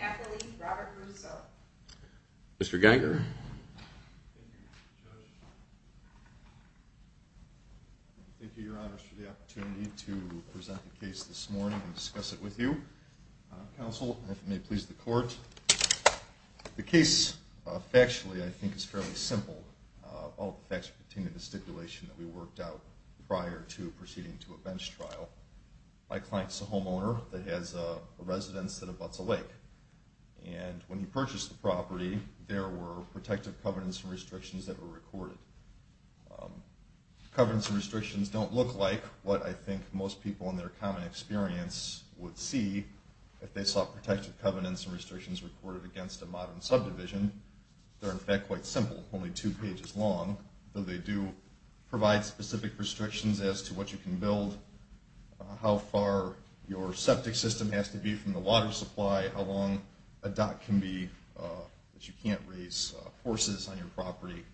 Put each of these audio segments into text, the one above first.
Appellee Robert Russo. Mr. Geiger. Thank you, Judge. Thank you, Your Honors, for the opportunity to present the case this morning and discuss it with you. Counsel, if it may please the Court. The case, factually, I think is fairly simple. All the facts pertain to the stipulation that we worked out prior to proceeding to a bench trial. My client's a homeowner that has a residence at Abutza Lake. And when he purchased the property, there were protective covenants and restrictions that were recorded. Covenants and restrictions don't look like what I think most people in their common experience would see if they saw protective covenants and restrictions recorded against a modern subdivision. They're, in fact, quite simple, only two pages long, though they do provide specific restrictions as to what you can build, how far your septic system has to be from the water supply, how long a dock can be that you can't raise horses on your property.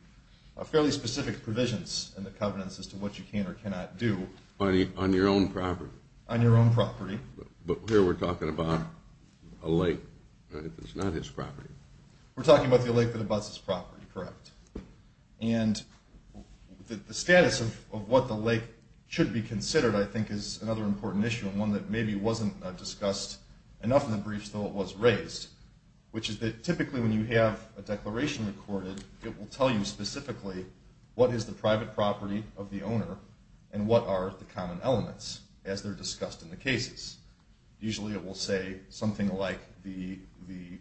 Fairly specific provisions in the covenants as to what you can or cannot do. On your own property? On your own property. But here we're talking about a lake that's not his property. We're talking about the lake that Abutza's property, correct. And the status of what the lake should be considered, I think, is another important issue, and one that maybe wasn't discussed enough in the briefs, though it was raised, which is that typically when you have a declaration recorded, it will tell you specifically what is the private property of the owner and what are the common elements, as they're discussed in the cases. Usually it will say something like the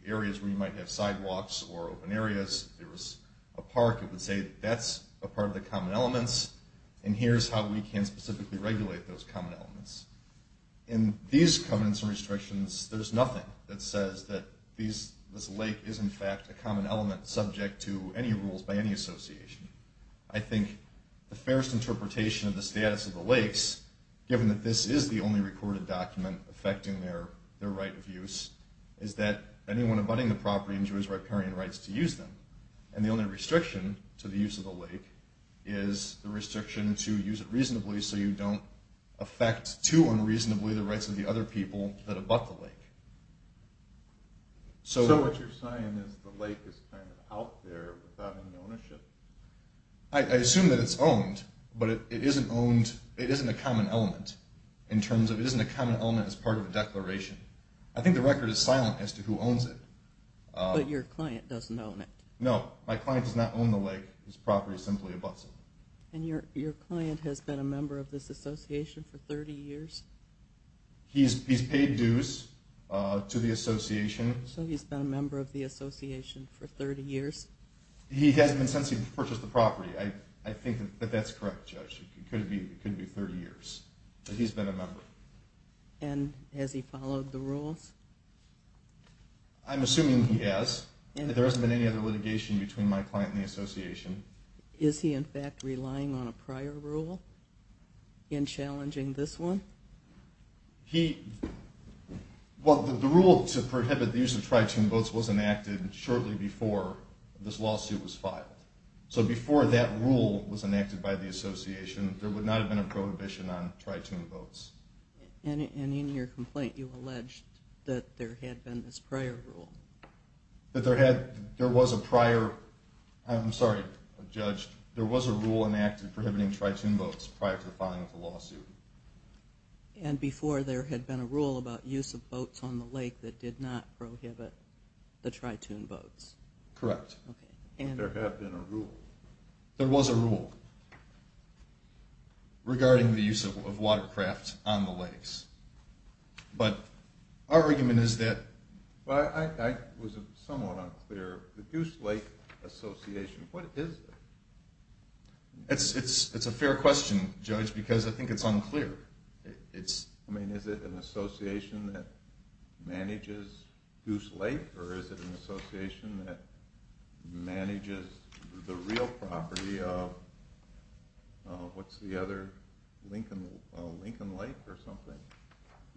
areas where you might have sidewalks or open areas. If there was a park, it would say that's a part of the common elements, and here's how we can specifically regulate those common elements. In these covenants and restrictions, there's nothing that says that this lake is, in fact, a common element subject to any rules by any association. I think the fairest interpretation of the status of the lakes, given that this is the only recorded document affecting their right of use, is that anyone abutting the property enjoys riparian rights to use them, and the only restriction to the use of the lake is the restriction to use it reasonably so you don't affect too unreasonably the rights of the other people that abut the lake. So what you're saying is the lake is kind of out there without any ownership? I assume that it's owned, but it isn't a common element in terms of it isn't a common element as part of a declaration. I think the record is silent as to who owns it. But your client doesn't own it. No, my client does not own the lake. This property is simply abuts it. And your client has been a member of this association for 30 years? He's paid dues to the association. So he's been a member of the association for 30 years? He hasn't been since he purchased the property. I think that that's correct, Judge. It could be 30 years. But he's been a member. And has he followed the rules? I'm assuming he has. There hasn't been any other litigation between my client and the association. Is he, in fact, relying on a prior rule in challenging this one? Well, the rule to prohibit the use of tri-tune boats was enacted shortly before this lawsuit was filed. So before that rule was enacted by the association, there would not have been a prohibition on tri-tune boats. And in your complaint, you alleged that there had been this prior rule. That there was a prior – I'm sorry, Judge. There was a rule enacted prohibiting tri-tune boats prior to the filing of the lawsuit. And before there had been a rule about use of boats on the lake that did not prohibit the tri-tune boats? Correct. And there have been a rule? There was a rule regarding the use of watercraft on the lakes. But our argument is that – Well, I was somewhat unclear. The Goose Lake Association, what is it? It's a fair question, Judge, because I think it's unclear. I mean, is it an association that manages Goose Lake? Or is it an association that manages the real property of – what's the other – Lincoln Lake or something?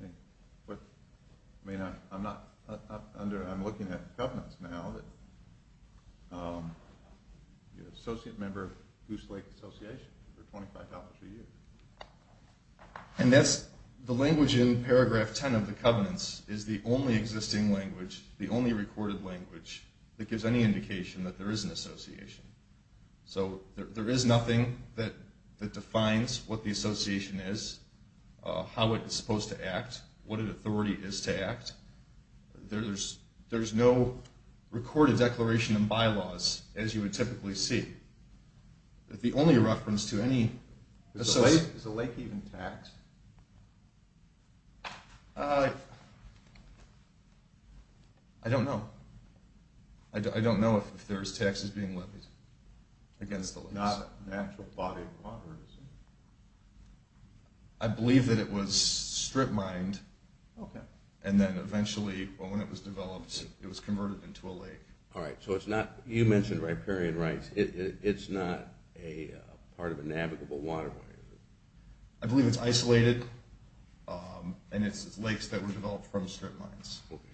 I mean, I'm not – I'm looking at the covenants now. The associate member of Goose Lake Association for $25 a year. And that's – the language in paragraph 10 of the covenants is the only existing language, the only recorded language that gives any indication that there is an association. So there is nothing that defines what the association is, how it's supposed to act, what an authority is to act. There's no recorded declaration in bylaws, as you would typically see. The only reference to any – Is the lake even taxed? I don't know. I don't know if there's taxes being levied against the lakes. Not an actual body of water, is it? I believe that it was strip-mined. Okay. All right. So it's not – you mentioned riparian rights. It's not a part of a navigable waterway, is it? I believe it's isolated, and it's lakes that were developed from strip mines. Okay.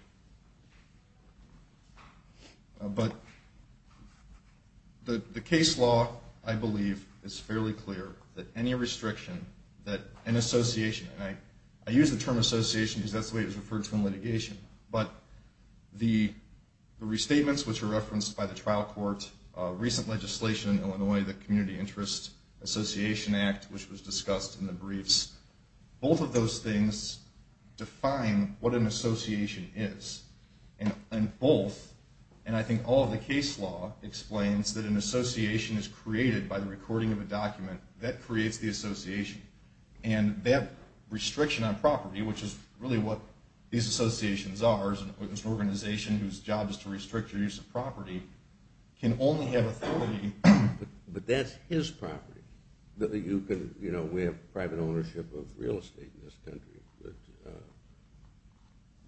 But the case law, I believe, is fairly clear that any restriction that an association – and I use the term association because that's the way it was referred to in litigation. But the restatements, which were referenced by the trial court, recent legislation in Illinois, the Community Interest Association Act, which was discussed in the briefs, both of those things define what an association is. And both, and I think all of the case law, explains that an association is created by the recording of a document. That creates the association. And that restriction on property, which is really what these associations are, is an organization whose job is to restrict your use of property, can only have authority. But that's his property. You know, we have private ownership of real estate in this country.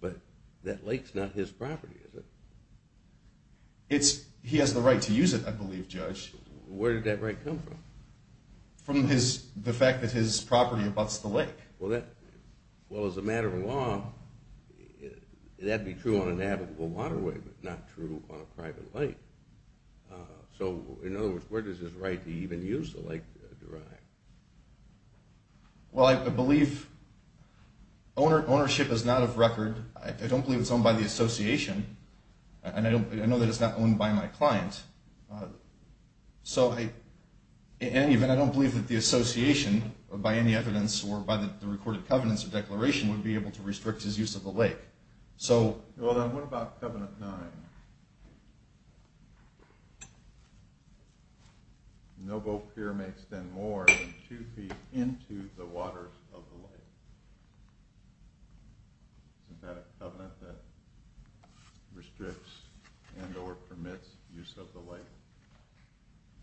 But that lake's not his property, is it? He has the right to use it, I believe, Judge. Where did that right come from? From the fact that his property abuts the lake. Well, as a matter of law, that'd be true on a navigable waterway, but not true on a private lake. So, in other words, where does his right to even use the lake derive? Well, I believe ownership is not of record. I don't believe it's owned by the association. And I know that it's not owned by my client. So, in any event, I don't believe that the association, by any evidence or by the recorded covenants or declaration, would be able to restrict his use of the lake. Well, then, what about Covenant 9? No boat here may extend more than two feet into the waters of the lake. Isn't that a covenant that restricts and or permits use of the lake?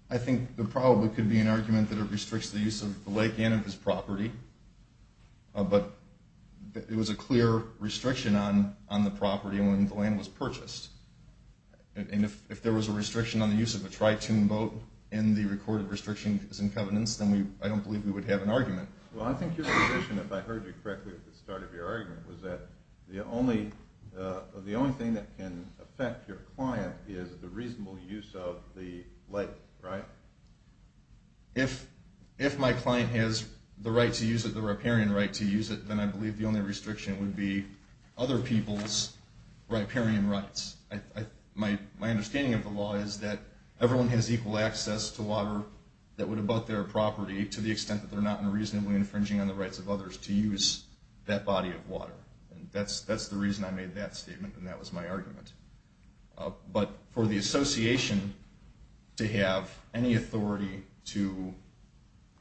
I think there probably could be an argument that it restricts the use of the lake and of his property. But it was a clear restriction on the property when the land was purchased. And if there was a restriction on the use of a tri-tuned boat, and the recorded restriction is in covenants, then I don't believe we would have an argument. Well, I think your position, if I heard you correctly at the start of your argument, was that the only thing that can affect your client is the reasonable use of the lake, right? If my client has the right to use it, the riparian right to use it, then I believe the only restriction would be other people's riparian rights. My understanding of the law is that everyone has equal access to water that would abut their property to the extent that they're not unreasonably infringing on the rights of others to use that body of water. That's the reason I made that statement, and that was my argument. But for the association to have any authority to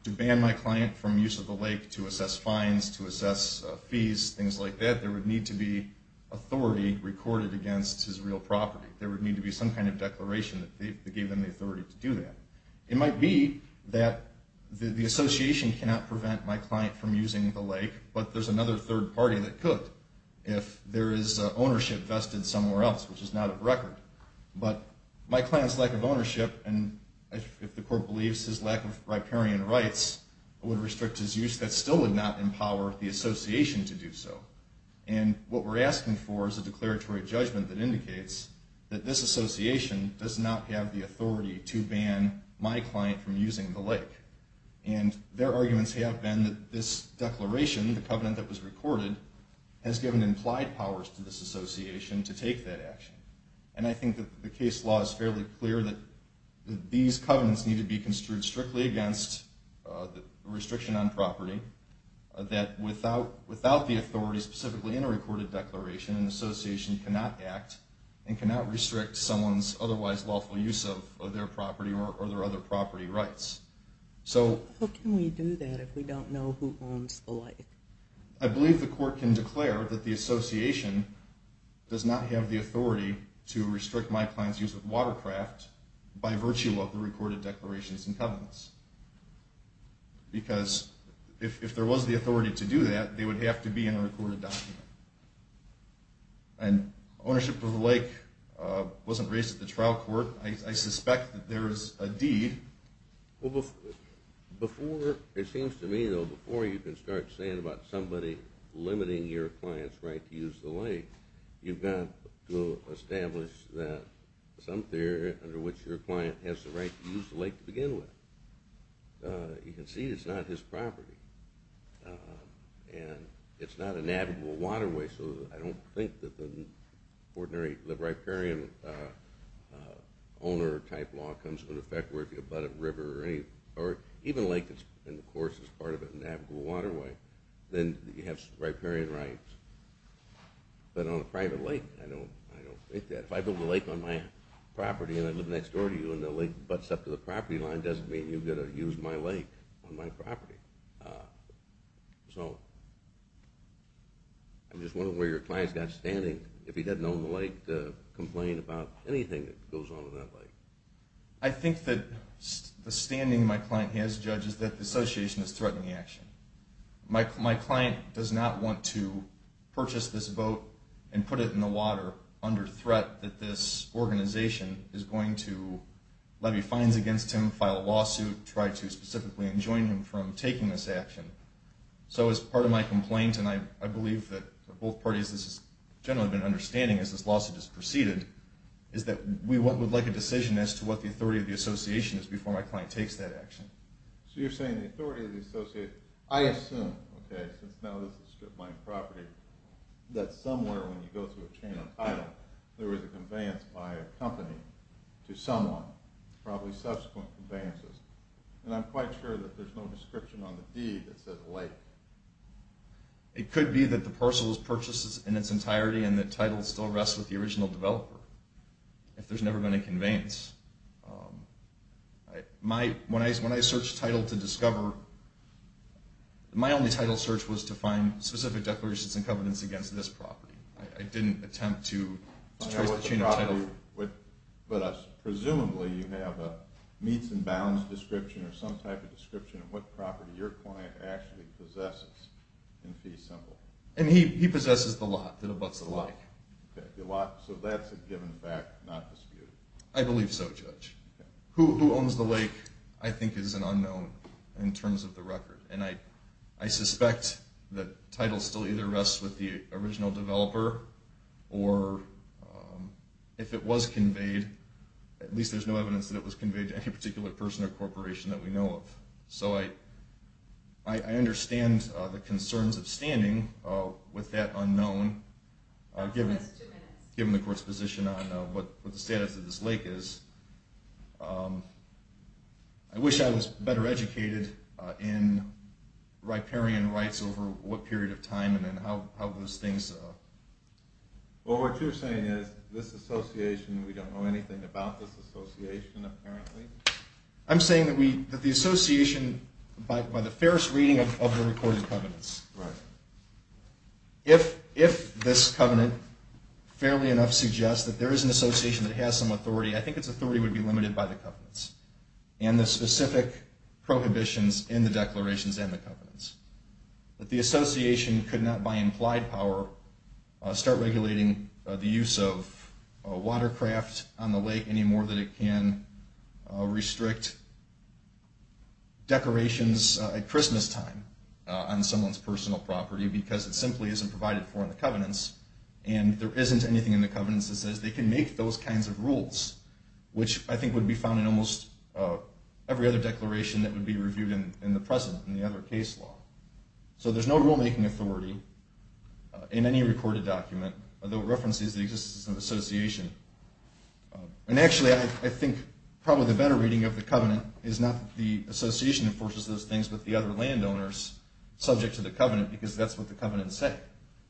ban my client from use of the lake, to assess fines, to assess fees, things like that, there would need to be authority recorded against his real property. There would need to be some kind of declaration that gave them the authority to do that. It might be that the association cannot prevent my client from using the lake, but there's another third party that could if there is ownership vested somewhere else, which is not a record. But my client's lack of ownership, and if the court believes his lack of riparian rights, would restrict his use. That still would not empower the association to do so. And what we're asking for is a declaratory judgment that indicates that this association does not have the authority to ban my client from using the lake. And their arguments have been that this declaration, the covenant that was recorded, has given implied powers to this association to take that action. And I think that the case law is fairly clear that these covenants need to be construed strictly against the restriction on property, that without the authority specifically in a recorded declaration, an association cannot act and cannot restrict someone's otherwise lawful use of their property or their other property rights. How can we do that if we don't know who owns the lake? I believe the court can declare that the association does not have the authority to restrict my client's use of watercraft by virtue of the recorded declarations and covenants. Because if there was the authority to do that, they would have to be in a recorded document. And ownership of the lake wasn't raised at the trial court. I suspect that there is a deed. Well, before it seems to me, though, before you can start saying about somebody limiting your client's right to use the lake, you've got to establish that some theory under which your client has the right to use the lake to begin with. You can see it's not his property. And it's not a navigable waterway, so I don't think that the riparian owner-type law comes into effect where if you butt a river or even a lake, of course, is part of a navigable waterway, then you have riparian rights. But on a private lake, I don't think that. If I build a lake on my property and I live next door to you and the lake butts up to the property line, it doesn't mean you've got to use my lake on my property. So I'm just wondering where your client's got standing if he doesn't own the lake to complain about anything that goes on in that lake. I think that the standing my client has, Judge, is that the association is threatening the action. My client does not want to purchase this boat and put it in the water under threat that this organization is going to levy fines against him, file a lawsuit, try to specifically enjoin him from taking this action. So as part of my complaint, and I believe that both parties have generally been understanding as this lawsuit has proceeded, is that we would like a decision as to what the authority of the association is before my client takes that action. So you're saying the authority of the association, I assume, okay, since now this is a strip mine property, that somewhere when you go through a chain of title, there was a conveyance by a company to someone, probably subsequent conveyances. And I'm quite sure that there's no description on the deed that says lake. It could be that the parcel was purchased in its entirety and the title still rests with the original developer, if there's never been a conveyance. When I searched title to discover, my only title search was to find specific declarations and covenants against this property. I didn't attempt to trace the chain of title. Presumably you have a meets and bounds description or some type of description of what property your client actually possesses in fee symbol. And he possesses the lot that abuts the lake. So that's a given fact, not disputed. I believe so, Judge. Who owns the lake I think is an unknown in terms of the record. And I suspect that title still either rests with the original developer or if it was conveyed, at least there's no evidence that it was conveyed to any particular person or corporation that we know of. So I understand the concerns of standing with that unknown, given the court's position on what the status of this lake is. I wish I was better educated in riparian rights over what period of time and how those things. What you're saying is this association, we don't know anything about this association apparently? I'm saying that the association, by the fairest reading of the recorded covenants, if this covenant fairly enough suggests that there is an association that has some authority, I think its authority would be limited by the covenants and the specific prohibitions in the declarations and the covenants. That the association could not by implied power start regulating the use of a watercraft on the lake any more than it can restrict decorations at Christmas time on someone's personal property because it simply isn't provided for in the covenants. And there isn't anything in the covenants that says they can make those kinds of rules, which I think would be found in almost every other declaration that would be reviewed in the present, in the other case law. So there's no rulemaking authority in any recorded document, although it references the existence of an association. And actually I think probably the better reading of the covenant is not that the association enforces those things, but the other landowners, subject to the covenant because that's what the covenant said,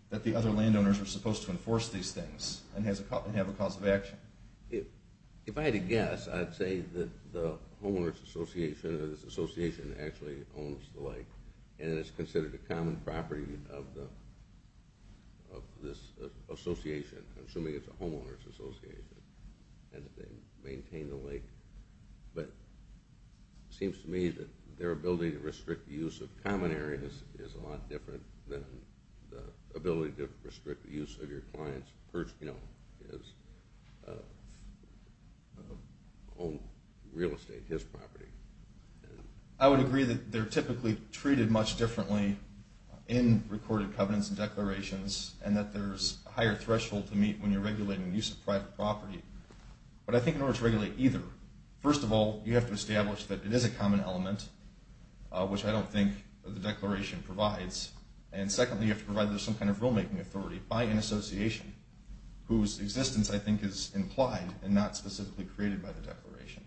that the other landowners are supposed to enforce these things and have a cause of action. If I had to guess, I'd say that the homeowners association or this association actually owns the lake and it's considered a common property of this association, assuming it's a homeowners association and that they maintain the lake. But it seems to me that their ability to restrict the use of common areas is a lot different than the ability to restrict the use of your client's personal, his own real estate, his property. I would agree that they're typically treated much differently in recorded covenants and declarations and that there's a higher threshold to meet when you're regulating the use of private property. But I think in order to regulate either, first of all, you have to establish that it is a common element, which I don't think the declaration provides. And secondly, you have to provide some kind of rulemaking authority by an association whose existence I think is implied and not specifically created by the declaration.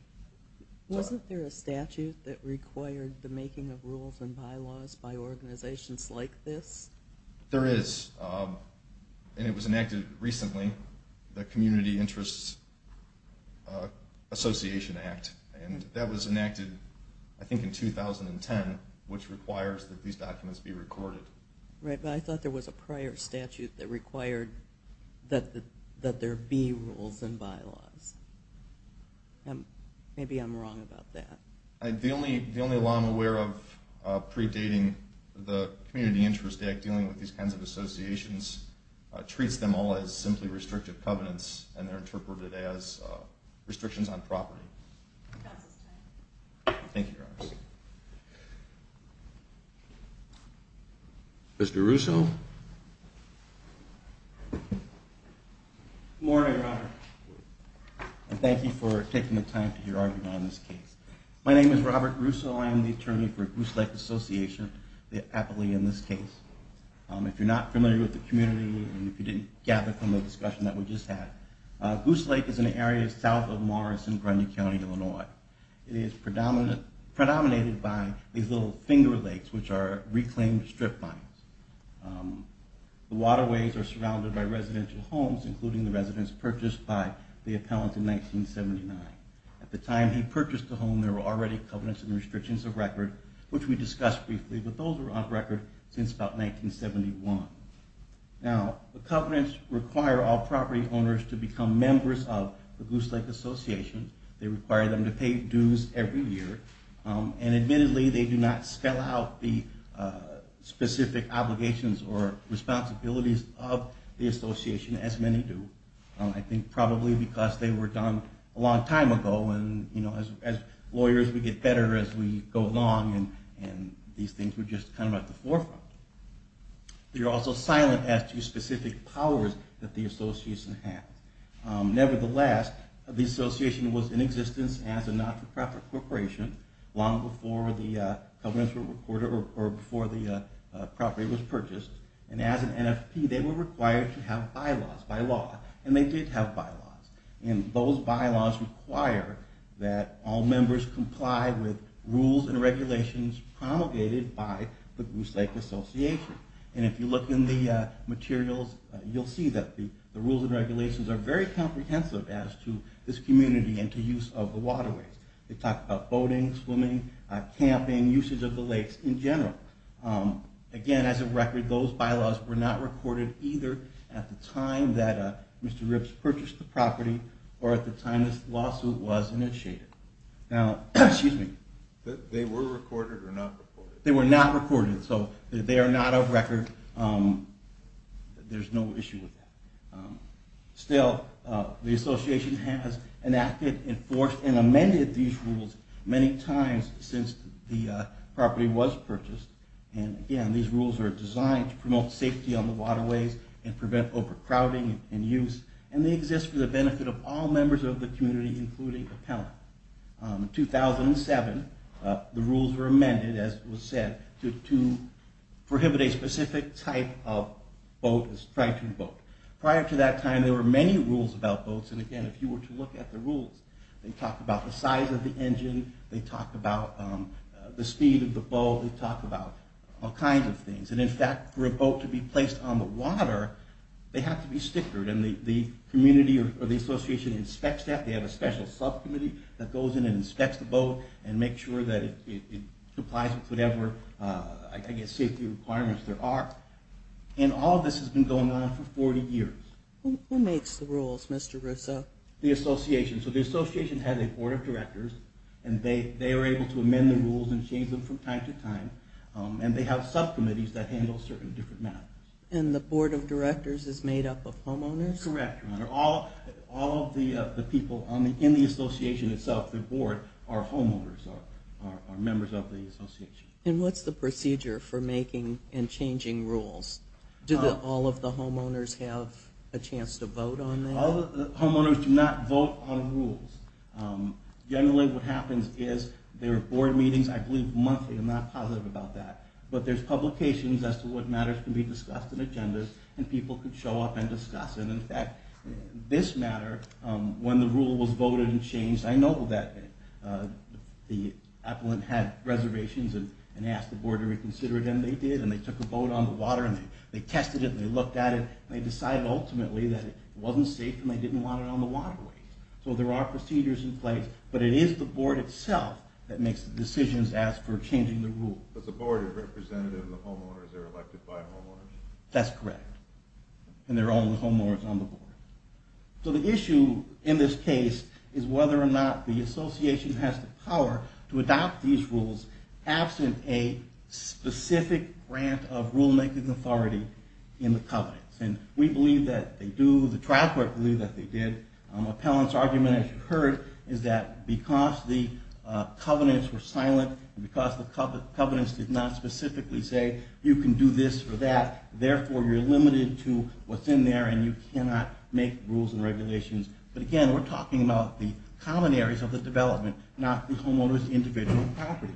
Wasn't there a statute that required the making of rules and bylaws by organizations like this? There is, and it was enacted recently, the Community Interests Association Act, and that was enacted I think in 2010, which requires that these documents be recorded. Right, but I thought there was a prior statute that required that there be rules and bylaws. Maybe I'm wrong about that. The only law I'm aware of predating the Community Interest Act dealing with these kinds of associations treats them all as simply restrictive covenants, and they're interpreted as restrictions on property. Counsel's time. Thank you, Your Honor. Mr. Russo? Good morning, Your Honor. And thank you for taking the time to hear argument on this case. My name is Robert Russo. I am the attorney for Goose Lake Association, the appellee in this case. If you're not familiar with the community and if you didn't gather from the discussion that we just had, Goose Lake is an area south of Morris in Grenada County, Illinois. It is predominated by these little finger lakes, which are reclaimed strip mines. The waterways are surrounded by residential homes, including the residence purchased by the appellant in 1979. At the time he purchased the home, there were already covenants and restrictions of record, which we discussed briefly, but those were on record since about 1971. Now, the covenants require all property owners to become members of the Goose Lake Association. They require them to pay dues every year. And admittedly, they do not spell out the specific obligations or responsibilities of the association, as many do. I think probably because they were done a long time ago and, you know, as lawyers, we get better as we go along and these things were just kind of at the forefront. They're also silent as to specific powers that the association has. Nevertheless, the association was in existence as a not-for-profit corporation long before the covenants were recorded or before the property was purchased. And as an NFP, they were required to have bylaws by law, and they did have bylaws. And those bylaws require that all members comply with rules and regulations promulgated by the Goose Lake Association. And if you look in the materials, you'll see that the rules and regulations are very comprehensive as to this community and to use of the waterways. They talk about boating, swimming, camping, usage of the lakes in general. Again, as a record, those bylaws were not recorded either at the time that Mr. Ripps purchased the property or at the time this lawsuit was initiated. Now, excuse me. They were recorded or not recorded? They were not recorded, so they are not of record. There's no issue with that. Still, the association has enacted, enforced, and amended these rules many times since the property was purchased. And again, these rules are designed to promote safety on the waterways and prevent overcrowding and use. And they exist for the benefit of all members of the community, including appellant. In 2007, the rules were amended, as was said, to prohibit a specific type of boat, a striped boat. Prior to that time, there were many rules about boats. And again, if you were to look at the rules, they talk about the size of the engine. They talk about the speed of the boat. They talk about all kinds of things. And in fact, for a boat to be placed on the water, they have to be stickered. And the community or the association inspects that. They have a special subcommittee that goes in and inspects the boat and makes sure that it complies with whatever, I guess, safety requirements there are. And all of this has been going on for 40 years. Who makes the rules, Mr. Russo? The association. So the association has a board of directors, and they are able to amend the rules and change them from time to time. And they have subcommittees that handle certain different matters. And the board of directors is made up of homeowners? Correct, Your Honor. All of the people in the association itself, the board, are homeowners, are members of the association. And what's the procedure for making and changing rules? Do all of the homeowners have a chance to vote on that? Homeowners do not vote on rules. Generally what happens is there are board meetings. I believe monthly. I'm not positive about that. But there's publications as to what matters can be discussed in agendas, and people can show up and discuss it. In fact, this matter, when the rule was voted and changed, I know that the appellant had reservations and asked the board to reconsider it, and they did, and they took a vote on the water, and they tested it, and they looked at it, and they decided ultimately that it wasn't safe, and they didn't want it on the waterways. So there are procedures in place. But it is the board itself that makes the decisions as for changing the rule. But the board is representative of the homeowners. They're elected by homeowners. That's correct. And there are only homeowners on the board. So the issue in this case is whether or not the association has the power to adopt these rules absent a specific grant of rulemaking authority in the covenants. And we believe that they do. The trial court believed that they did. Appellant's argument, as you heard, is that because the covenants were silent and because the covenants did not specifically say you can do this or that, therefore you're limited to what's in there and you cannot make rules and regulations. But, again, we're talking about the common areas of the development, not the homeowners' individual property.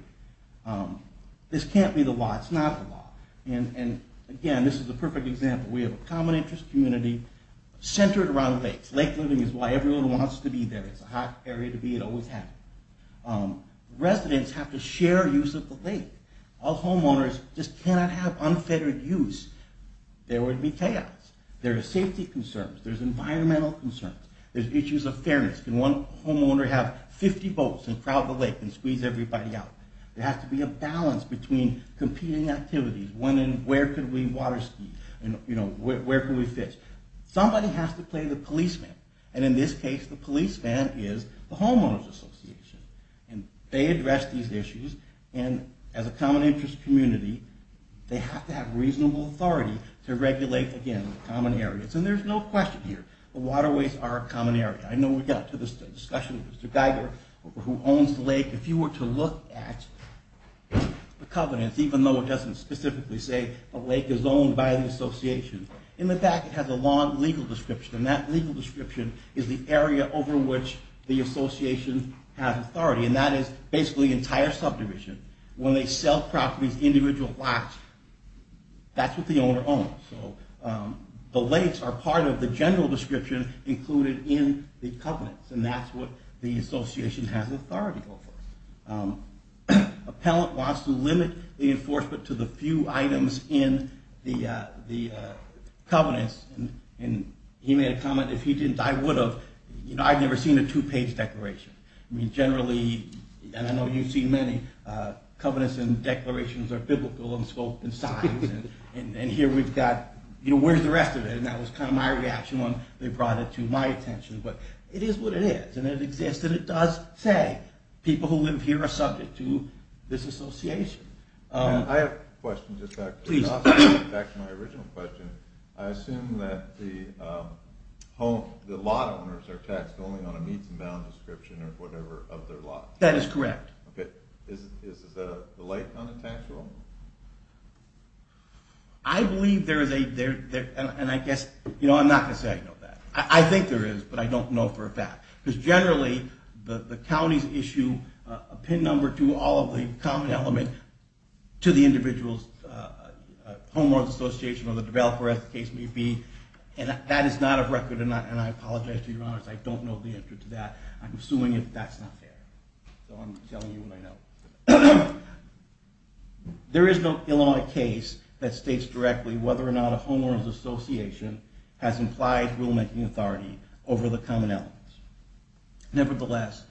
This can't be the law. It's not the law. And, again, this is the perfect example. We have a common interest community centered around lakes. Lake living is why everyone wants to be there. It's a hot area to be. It always has been. Residents have to share use of the lake. All homeowners just cannot have unfettered use. There would be chaos. There are safety concerns. There's environmental concerns. There's issues of fairness. Can one homeowner have 50 boats and crowd the lake and squeeze everybody out? There has to be a balance between competing activities, when and where could we water ski and where could we fish. Somebody has to play the policeman. And in this case, the policeman is the homeowners' association. And they address these issues. And as a common interest community, they have to have reasonable authority to regulate, again, the common areas. And there's no question here. The waterways are a common area. I know we got to this discussion with Mr. Geiger, who owns the lake. If you were to look at the covenants, even though it doesn't specifically say the lake is owned by the association, in the back it has a long legal description. And that legal description is the area over which the association has authority. And that is basically the entire subdivision. When they sell properties, individual lots, that's what the owner owns. So the lakes are part of the general description included in the covenants. And that's what the association has authority over. Appellant wants to limit the enforcement to the few items in the covenants. And he made a comment, if he didn't, I would have. You know, I've never seen a two-page declaration. I mean, generally, and I know you've seen many, covenants and declarations are biblical in scope and size. And here we've got, you know, where's the rest of it? And that was kind of my reaction when they brought it to my attention. But it is what it is. And it exists. And it does say people who live here are subject to this association. I have a question just back to my original question. I assume that the lot owners are taxed only on a meets and bounds description or whatever of their lot. That is correct. Okay. Is the lake not a taxable? I believe there is a, and I guess, you know, I'm not going to say I know that. I think there is, but I don't know for a fact. Because generally, the counties issue a pin number to all of the common element to the individual's homeowner's association or the developer, as the case may be. And that is not a record, and I apologize to your honors. I don't know the answer to that. I'm assuming that that's not fair. So I'm telling you what I know. There is no Illinois case that states directly whether or not a homeowner's association has implied rulemaking authority over the common elements. Nevertheless,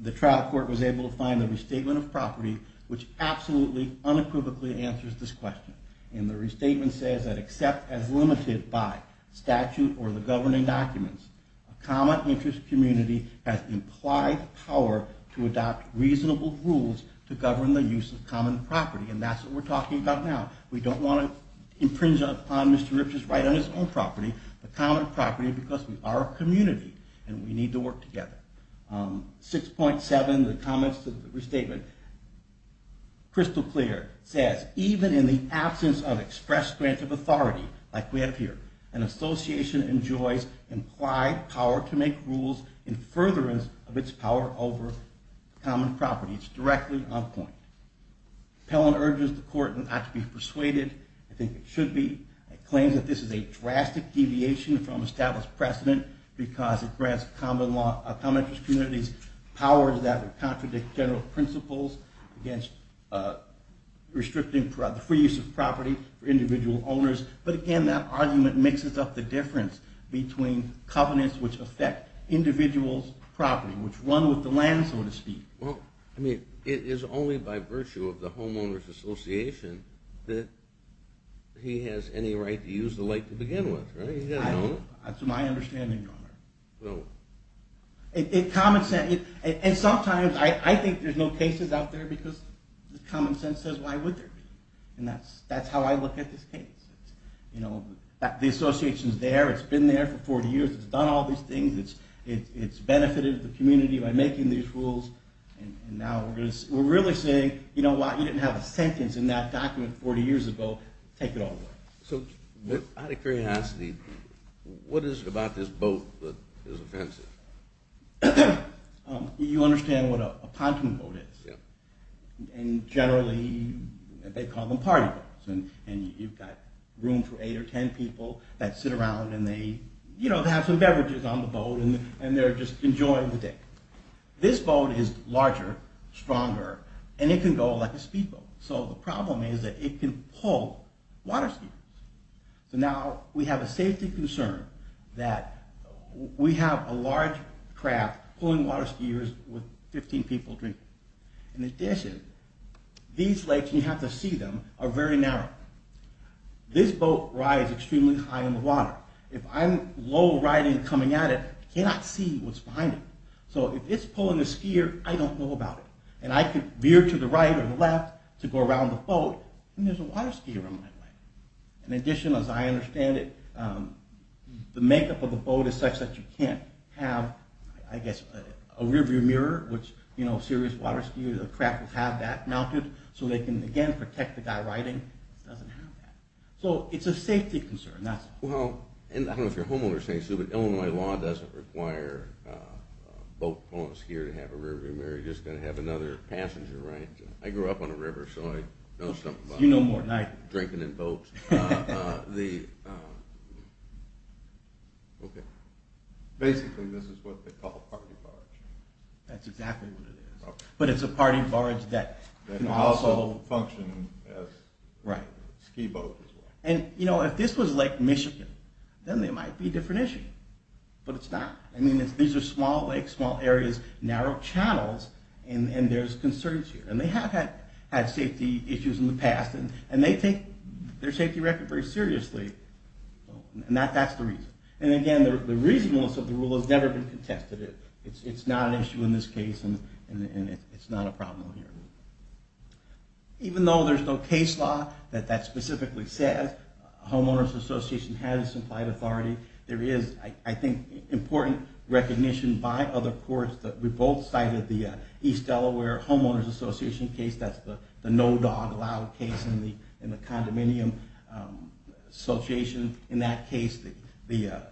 the trial court was able to find the restatement of property, which absolutely unequivocally answers this question. And the restatement says that except as limited by statute or the governing documents, a common interest community has implied power to adopt reasonable rules to govern the use of common property. And that's what we're talking about now. We don't want to impringe upon Mr. Rich's right on his own property, the common property, because we are a community and we need to work together. 6.7, the comments to the restatement. Crystal clear. It says, even in the absence of express grant of authority, like we have here, an association enjoys implied power to make rules in furtherance of its power over common property. It's directly on point. Pellon urges the court not to be persuaded. I think it should be. It claims that this is a drastic deviation from established precedent because it grants common interest communities power to that that contradict general principles against restricting the free use of property for individual owners. But, again, that argument mixes up the difference between covenants which affect individuals' property, which run with the land, so to speak. Well, I mean, it is only by virtue of the homeowners' association that he has any right to use the lake to begin with, right? No. That's my understanding, Your Honor. No. And sometimes I think there's no cases out there because common sense says why would there be? And that's how I look at this case. You know, the association's there. It's been there for 40 years. It's done all these things. It's benefited the community by making these rules. And now we're really saying, you know what, you didn't have a sentence in that document 40 years ago. Take it all away. So out of curiosity, what is it about this boat that is offensive? You understand what a pontoon boat is. And generally they call them party boats. And you've got room for eight or ten people that sit around and they, you know, have some beverages on the boat and they're just enjoying the day. This boat is larger, stronger, and it can go like a speedboat. So the problem is that it can pull water skiers. So now we have a safety concern that we have a large craft pulling water skiers with 15 people drinking. In addition, these lakes, you have to see them, are very narrow. This boat rides extremely high in the water. If I'm low riding and coming at it, I cannot see what's behind it. So if it's pulling a skier, I don't know about it. And I could veer to the right or the left to go around the boat and there's a water skier on my way. In addition, as I understand it, the makeup of the boat is such that you can't have, I guess, a rearview mirror, which, you know, serious water skiers or craft would have that mounted so they can, again, protect the guy riding. It doesn't have that. So it's a safety concern. Well, and I don't know if your homeowner is saying so, but Illinois law doesn't require a boat pulling a skier to have a rearview mirror. You're just going to have another passenger, right? I grew up on a river, so I know something about it. You know more than I do. Drinking in boats. Basically, this is what they call a party barge. That's exactly what it is. But it's a party barge that can also function as a ski boat as well. And, you know, if this was Lake Michigan, then there might be a different issue. But it's not. I mean, these are small lakes, small areas, narrow channels, and there's concerns here. And they have had safety issues in the past, and they take their safety record very seriously. And that's the reason. And, again, the reasonableness of the rule has never been contested. It's not an issue in this case, and it's not a problem here. Even though there's no case law that that specifically says homeowners association has implied authority, there is, I think, important recognition by other courts that we both cited the East Delaware homeowners association case. That's the no dog allowed case in the condominium association. In that case, the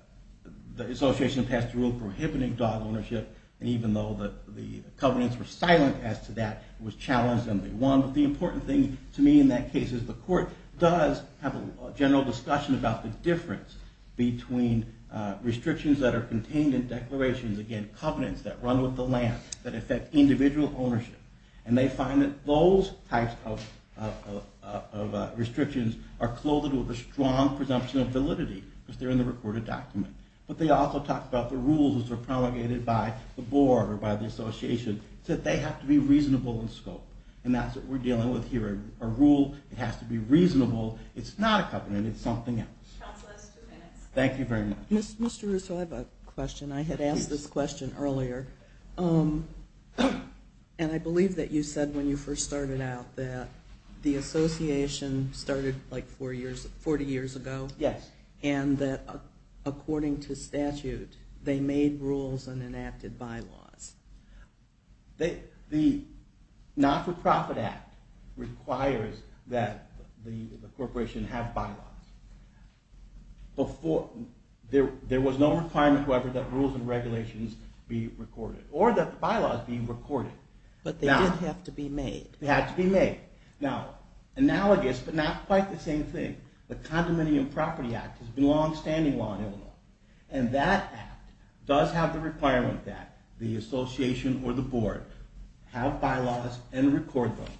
association passed a rule prohibiting dog ownership, and even though the covenants were silent as to that, it was challenged and they won. But the important thing to me in that case is the court does have a general discussion about the difference between restrictions that are contained in declarations, again, covenants that run with the land, that affect individual ownership. And they find that those types of restrictions are clothed with a strong presumption of validity because they're in the recorded document. But they also talk about the rules that are promulgated by the board or by the association, that they have to be reasonable in scope. And that's what we're dealing with here, a rule that has to be reasonable. It's not a covenant. It's something else. Counsel, that's two minutes. Thank you very much. Mr. Russo, I have a question. I had asked this question earlier. And I believe that you said when you first started out that the association started like 40 years ago. Yes. And that according to statute, they made rules and enacted bylaws. The not-for-profit act requires that the corporation have bylaws. There was no requirement, however, that rules and regulations be recorded or that the bylaws be recorded. But they did have to be made. They had to be made. Now, analogous but not quite the same thing, the Condominium Property Act has been a longstanding law in Illinois. And that act does have the requirement that the association or the board have bylaws and record them.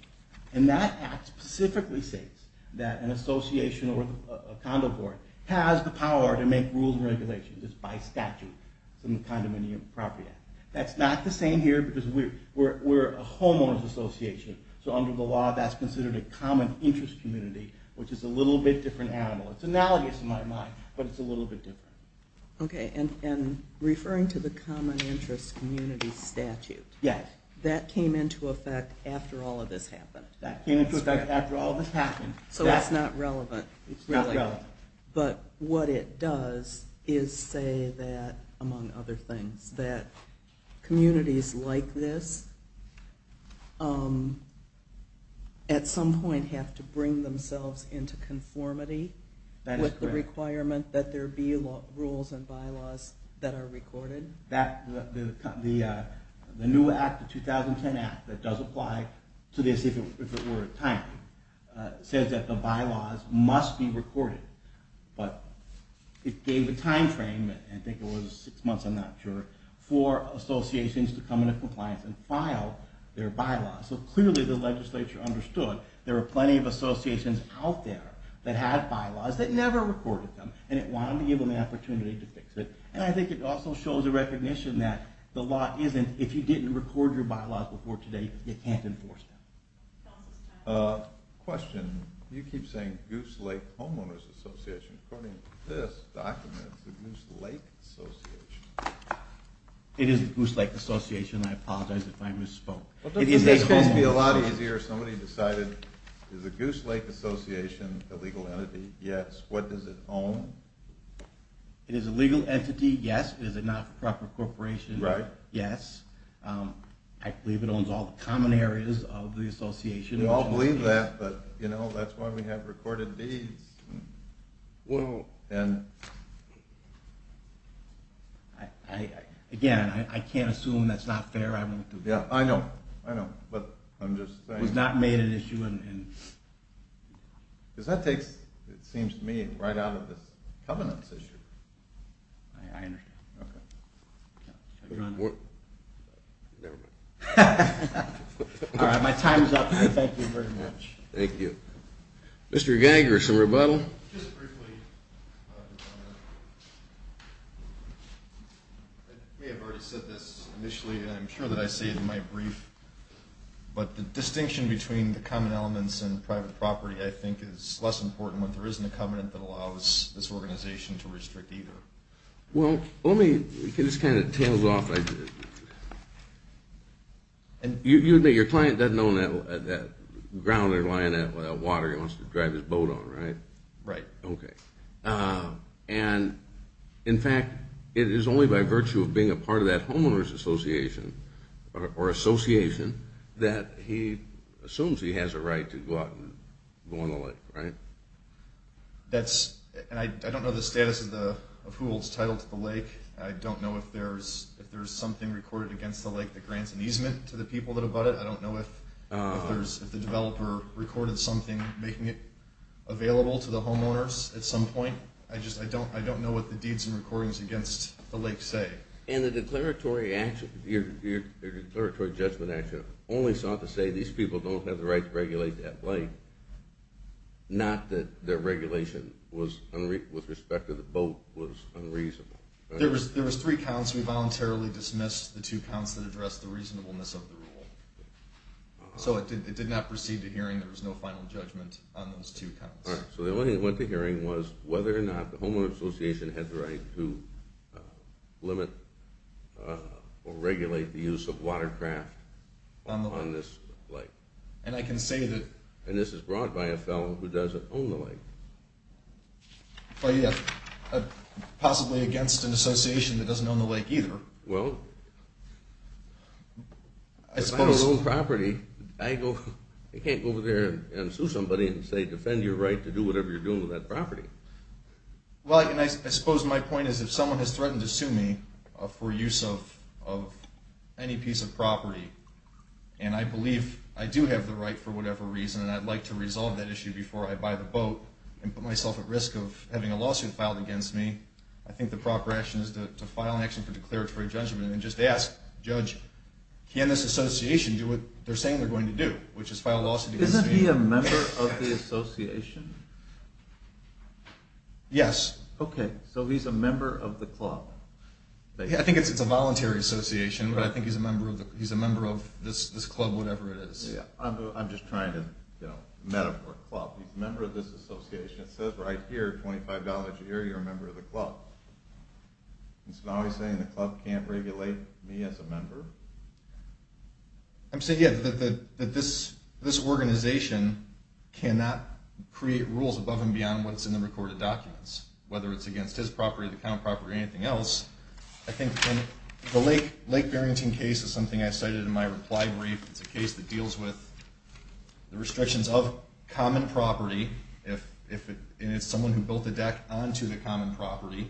And that act specifically states that an association or a condo board has the power to make rules and regulations. It's by statute. It's in the Condominium Property Act. That's not the same here because we're a homeowner's association. So under the law, that's considered a common interest community, which is a little bit different animal. It's analogous in my mind, but it's a little bit different. Okay, and referring to the common interest community statute. Yes. That came into effect after all of this happened. That came into effect after all of this happened. So it's not relevant. It's not relevant. But what it does is say that, among other things, that communities like this at some point have to bring themselves into conformity with the requirement that there be rules and bylaws that are recorded. The new act, the 2010 act, that does apply to this if it were timely, says that the bylaws must be recorded. But it gave a time frame, I think it was six months, I'm not sure, for associations to come into compliance and file their bylaws. So clearly the legislature understood there were plenty of associations out there that had bylaws that never recorded them, and it wanted to give them the opportunity to fix it. And I think it also shows a recognition that the law isn't, if you didn't record your bylaws before today, you can't enforce them. Question. You keep saying Goose Lake Homeowners Association. According to this document, it's the Goose Lake Association. It is the Goose Lake Association. I apologize if I misspoke. It's supposed to be a lot easier if somebody decided, is the Goose Lake Association a legal entity? Yes. What does it own? It is a legal entity, yes. Is it not a proper corporation? Right. Yes. I believe it owns all the common areas of the association. We all believe that, but, you know, that's why we have recorded deeds. Well, again, I can't assume that's not fair. I know, I know, but I'm just saying. It was not made an issue. Because that takes, it seems to me, right out of this covenants issue. I understand. Okay. Never mind. All right. My time is up. Thank you very much. Thank you. Mr. Geiger, some rebuttal? Just briefly. I may have already said this initially, and I'm sure that I say it in my brief, but the distinction between the common elements and private property, I think, is less important when there isn't a covenant that allows this organization to restrict either. Well, let me, this kind of tails off. You admit your client doesn't own that ground or line of water he wants to drive his boat on, right? Right. Okay. And, in fact, it is only by virtue of being a part of that homeowner's association or association that he assumes he has a right to go out and go on the lake, right? That's, and I don't know the status of who holds title to the lake. I don't know if there's something recorded against the lake that grants an easement to the people that have bought it. I don't know if the developer recorded something making it available to the homeowners at some point. I just, I don't know what the deeds and recordings against the lake say. And the declaratory action, your declaratory judgment action, only sought to say these people don't have the right to regulate that lake, not that their regulation was, with respect to the boat, was unreasonable. There was three counts. We voluntarily dismissed the two counts that addressed the reasonableness of the rule. So it did not proceed to hearing there was no final judgment on those two counts. All right, so the only thing that went to hearing was whether or not the homeowner's association had the right to limit or regulate the use of watercraft on this lake. And I can say that. And this is brought by a fellow who doesn't own the lake. Possibly against an association that doesn't own the lake either. Well, if I own property, I can't go over there and sue somebody and say defend your right to do whatever you're doing with that property. Well, and I suppose my point is if someone has threatened to sue me for use of any piece of property and I believe I do have the right for whatever reason and I'd like to resolve that issue before I buy the boat and put myself at risk of having a lawsuit filed against me, I think the proper action is to file an action for declaratory judgment and just ask, judge, can this association do what they're saying they're going to do, which is file a lawsuit against me? Is he a member of the association? Yes. Okay. So he's a member of the club. I think it's a voluntary association, but I think he's a member of this club, whatever it is. I'm just trying to metaphor club. He's a member of this association. It says right here, $25 a year, you're a member of the club. And so now he's saying the club can't regulate me as a member? I'm saying, yeah, that this organization cannot create rules above and beyond what's in the recorded documents, whether it's against his property, the account property, or anything else. I think the Lake Barrington case is something I cited in my reply brief. It's a case that deals with the restrictions of common property, and it's someone who built a deck onto the common property,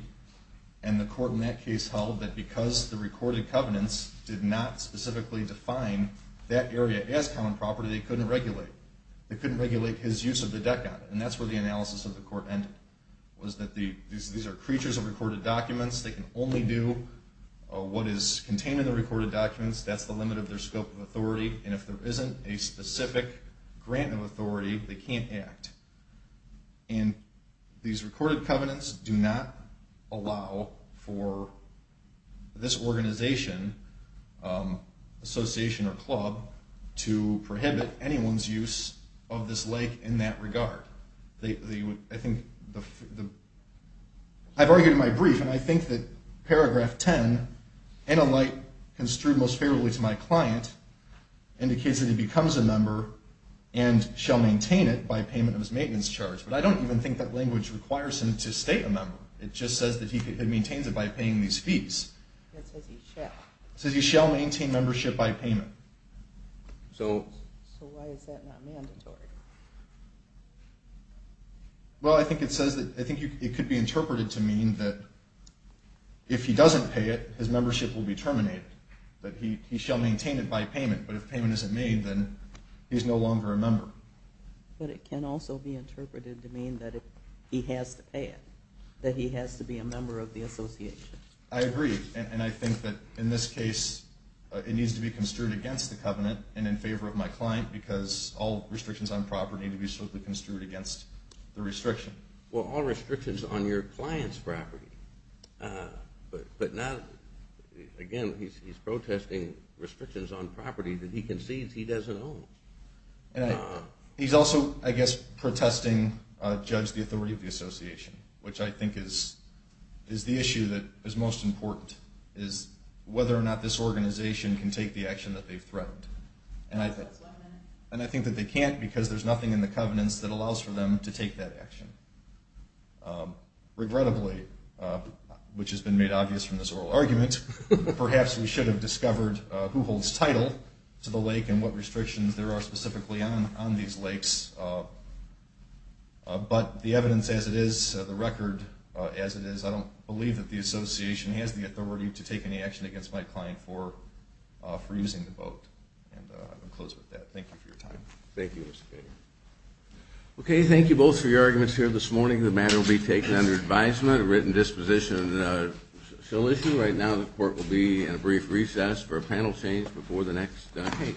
and the court in that case held that because the recorded covenants did not specifically define that area as common property, they couldn't regulate. They couldn't regulate his use of the deck on it, and that's where the analysis of the court ended, was that these are creatures of recorded documents. They can only do what is contained in the recorded documents. That's the limit of their scope of authority, and if there isn't a specific grant of authority, they can't act. And these recorded covenants do not allow for this organization, association, or club to prohibit anyone's use of this lake in that regard. I've argued in my brief, and I think that paragraph 10, in a light construed most favorably to my client, indicates that he becomes a member and shall maintain it by payment of his maintenance charge. But I don't even think that language requires him to stay a member. It just says that he maintains it by paying these fees. It says he shall. It says he shall maintain membership by payment. So why is that not mandatory? Well, I think it says that, I think it could be interpreted to mean that if he doesn't pay it, his membership will be terminated. That he shall maintain it by payment, but if payment isn't made, then he's no longer a member. But it can also be interpreted to mean that if he has to pay it, that he has to be a member of the association. I agree, and I think that in this case, it needs to be construed against the covenant and in favor of my client, because all restrictions on property need to be strictly construed against the restriction. Well, all restrictions on your client's property, but now, again, he's protesting restrictions on property that he concedes he doesn't own. He's also, I guess, protesting, judge the authority of the association, which I think is the issue that is most important, is whether or not this organization can take the action that they've threatened. And I think that they can't because there's nothing in the covenants that allows for them to take that action. Regrettably, which has been made obvious from this oral argument, perhaps we should have discovered who holds title to the lake and what restrictions there are specifically on these lakes. But the evidence as it is, the record as it is, I don't believe that the association has the authority to take any action against my client for using the boat. And I'll close with that. Thank you for your time. Thank you, Mr. Bader. Okay, thank you both for your arguments here this morning. The matter will be taken under advisement. A written disposition shall issue right now. The court will be in a brief recess for a panel change before the next case.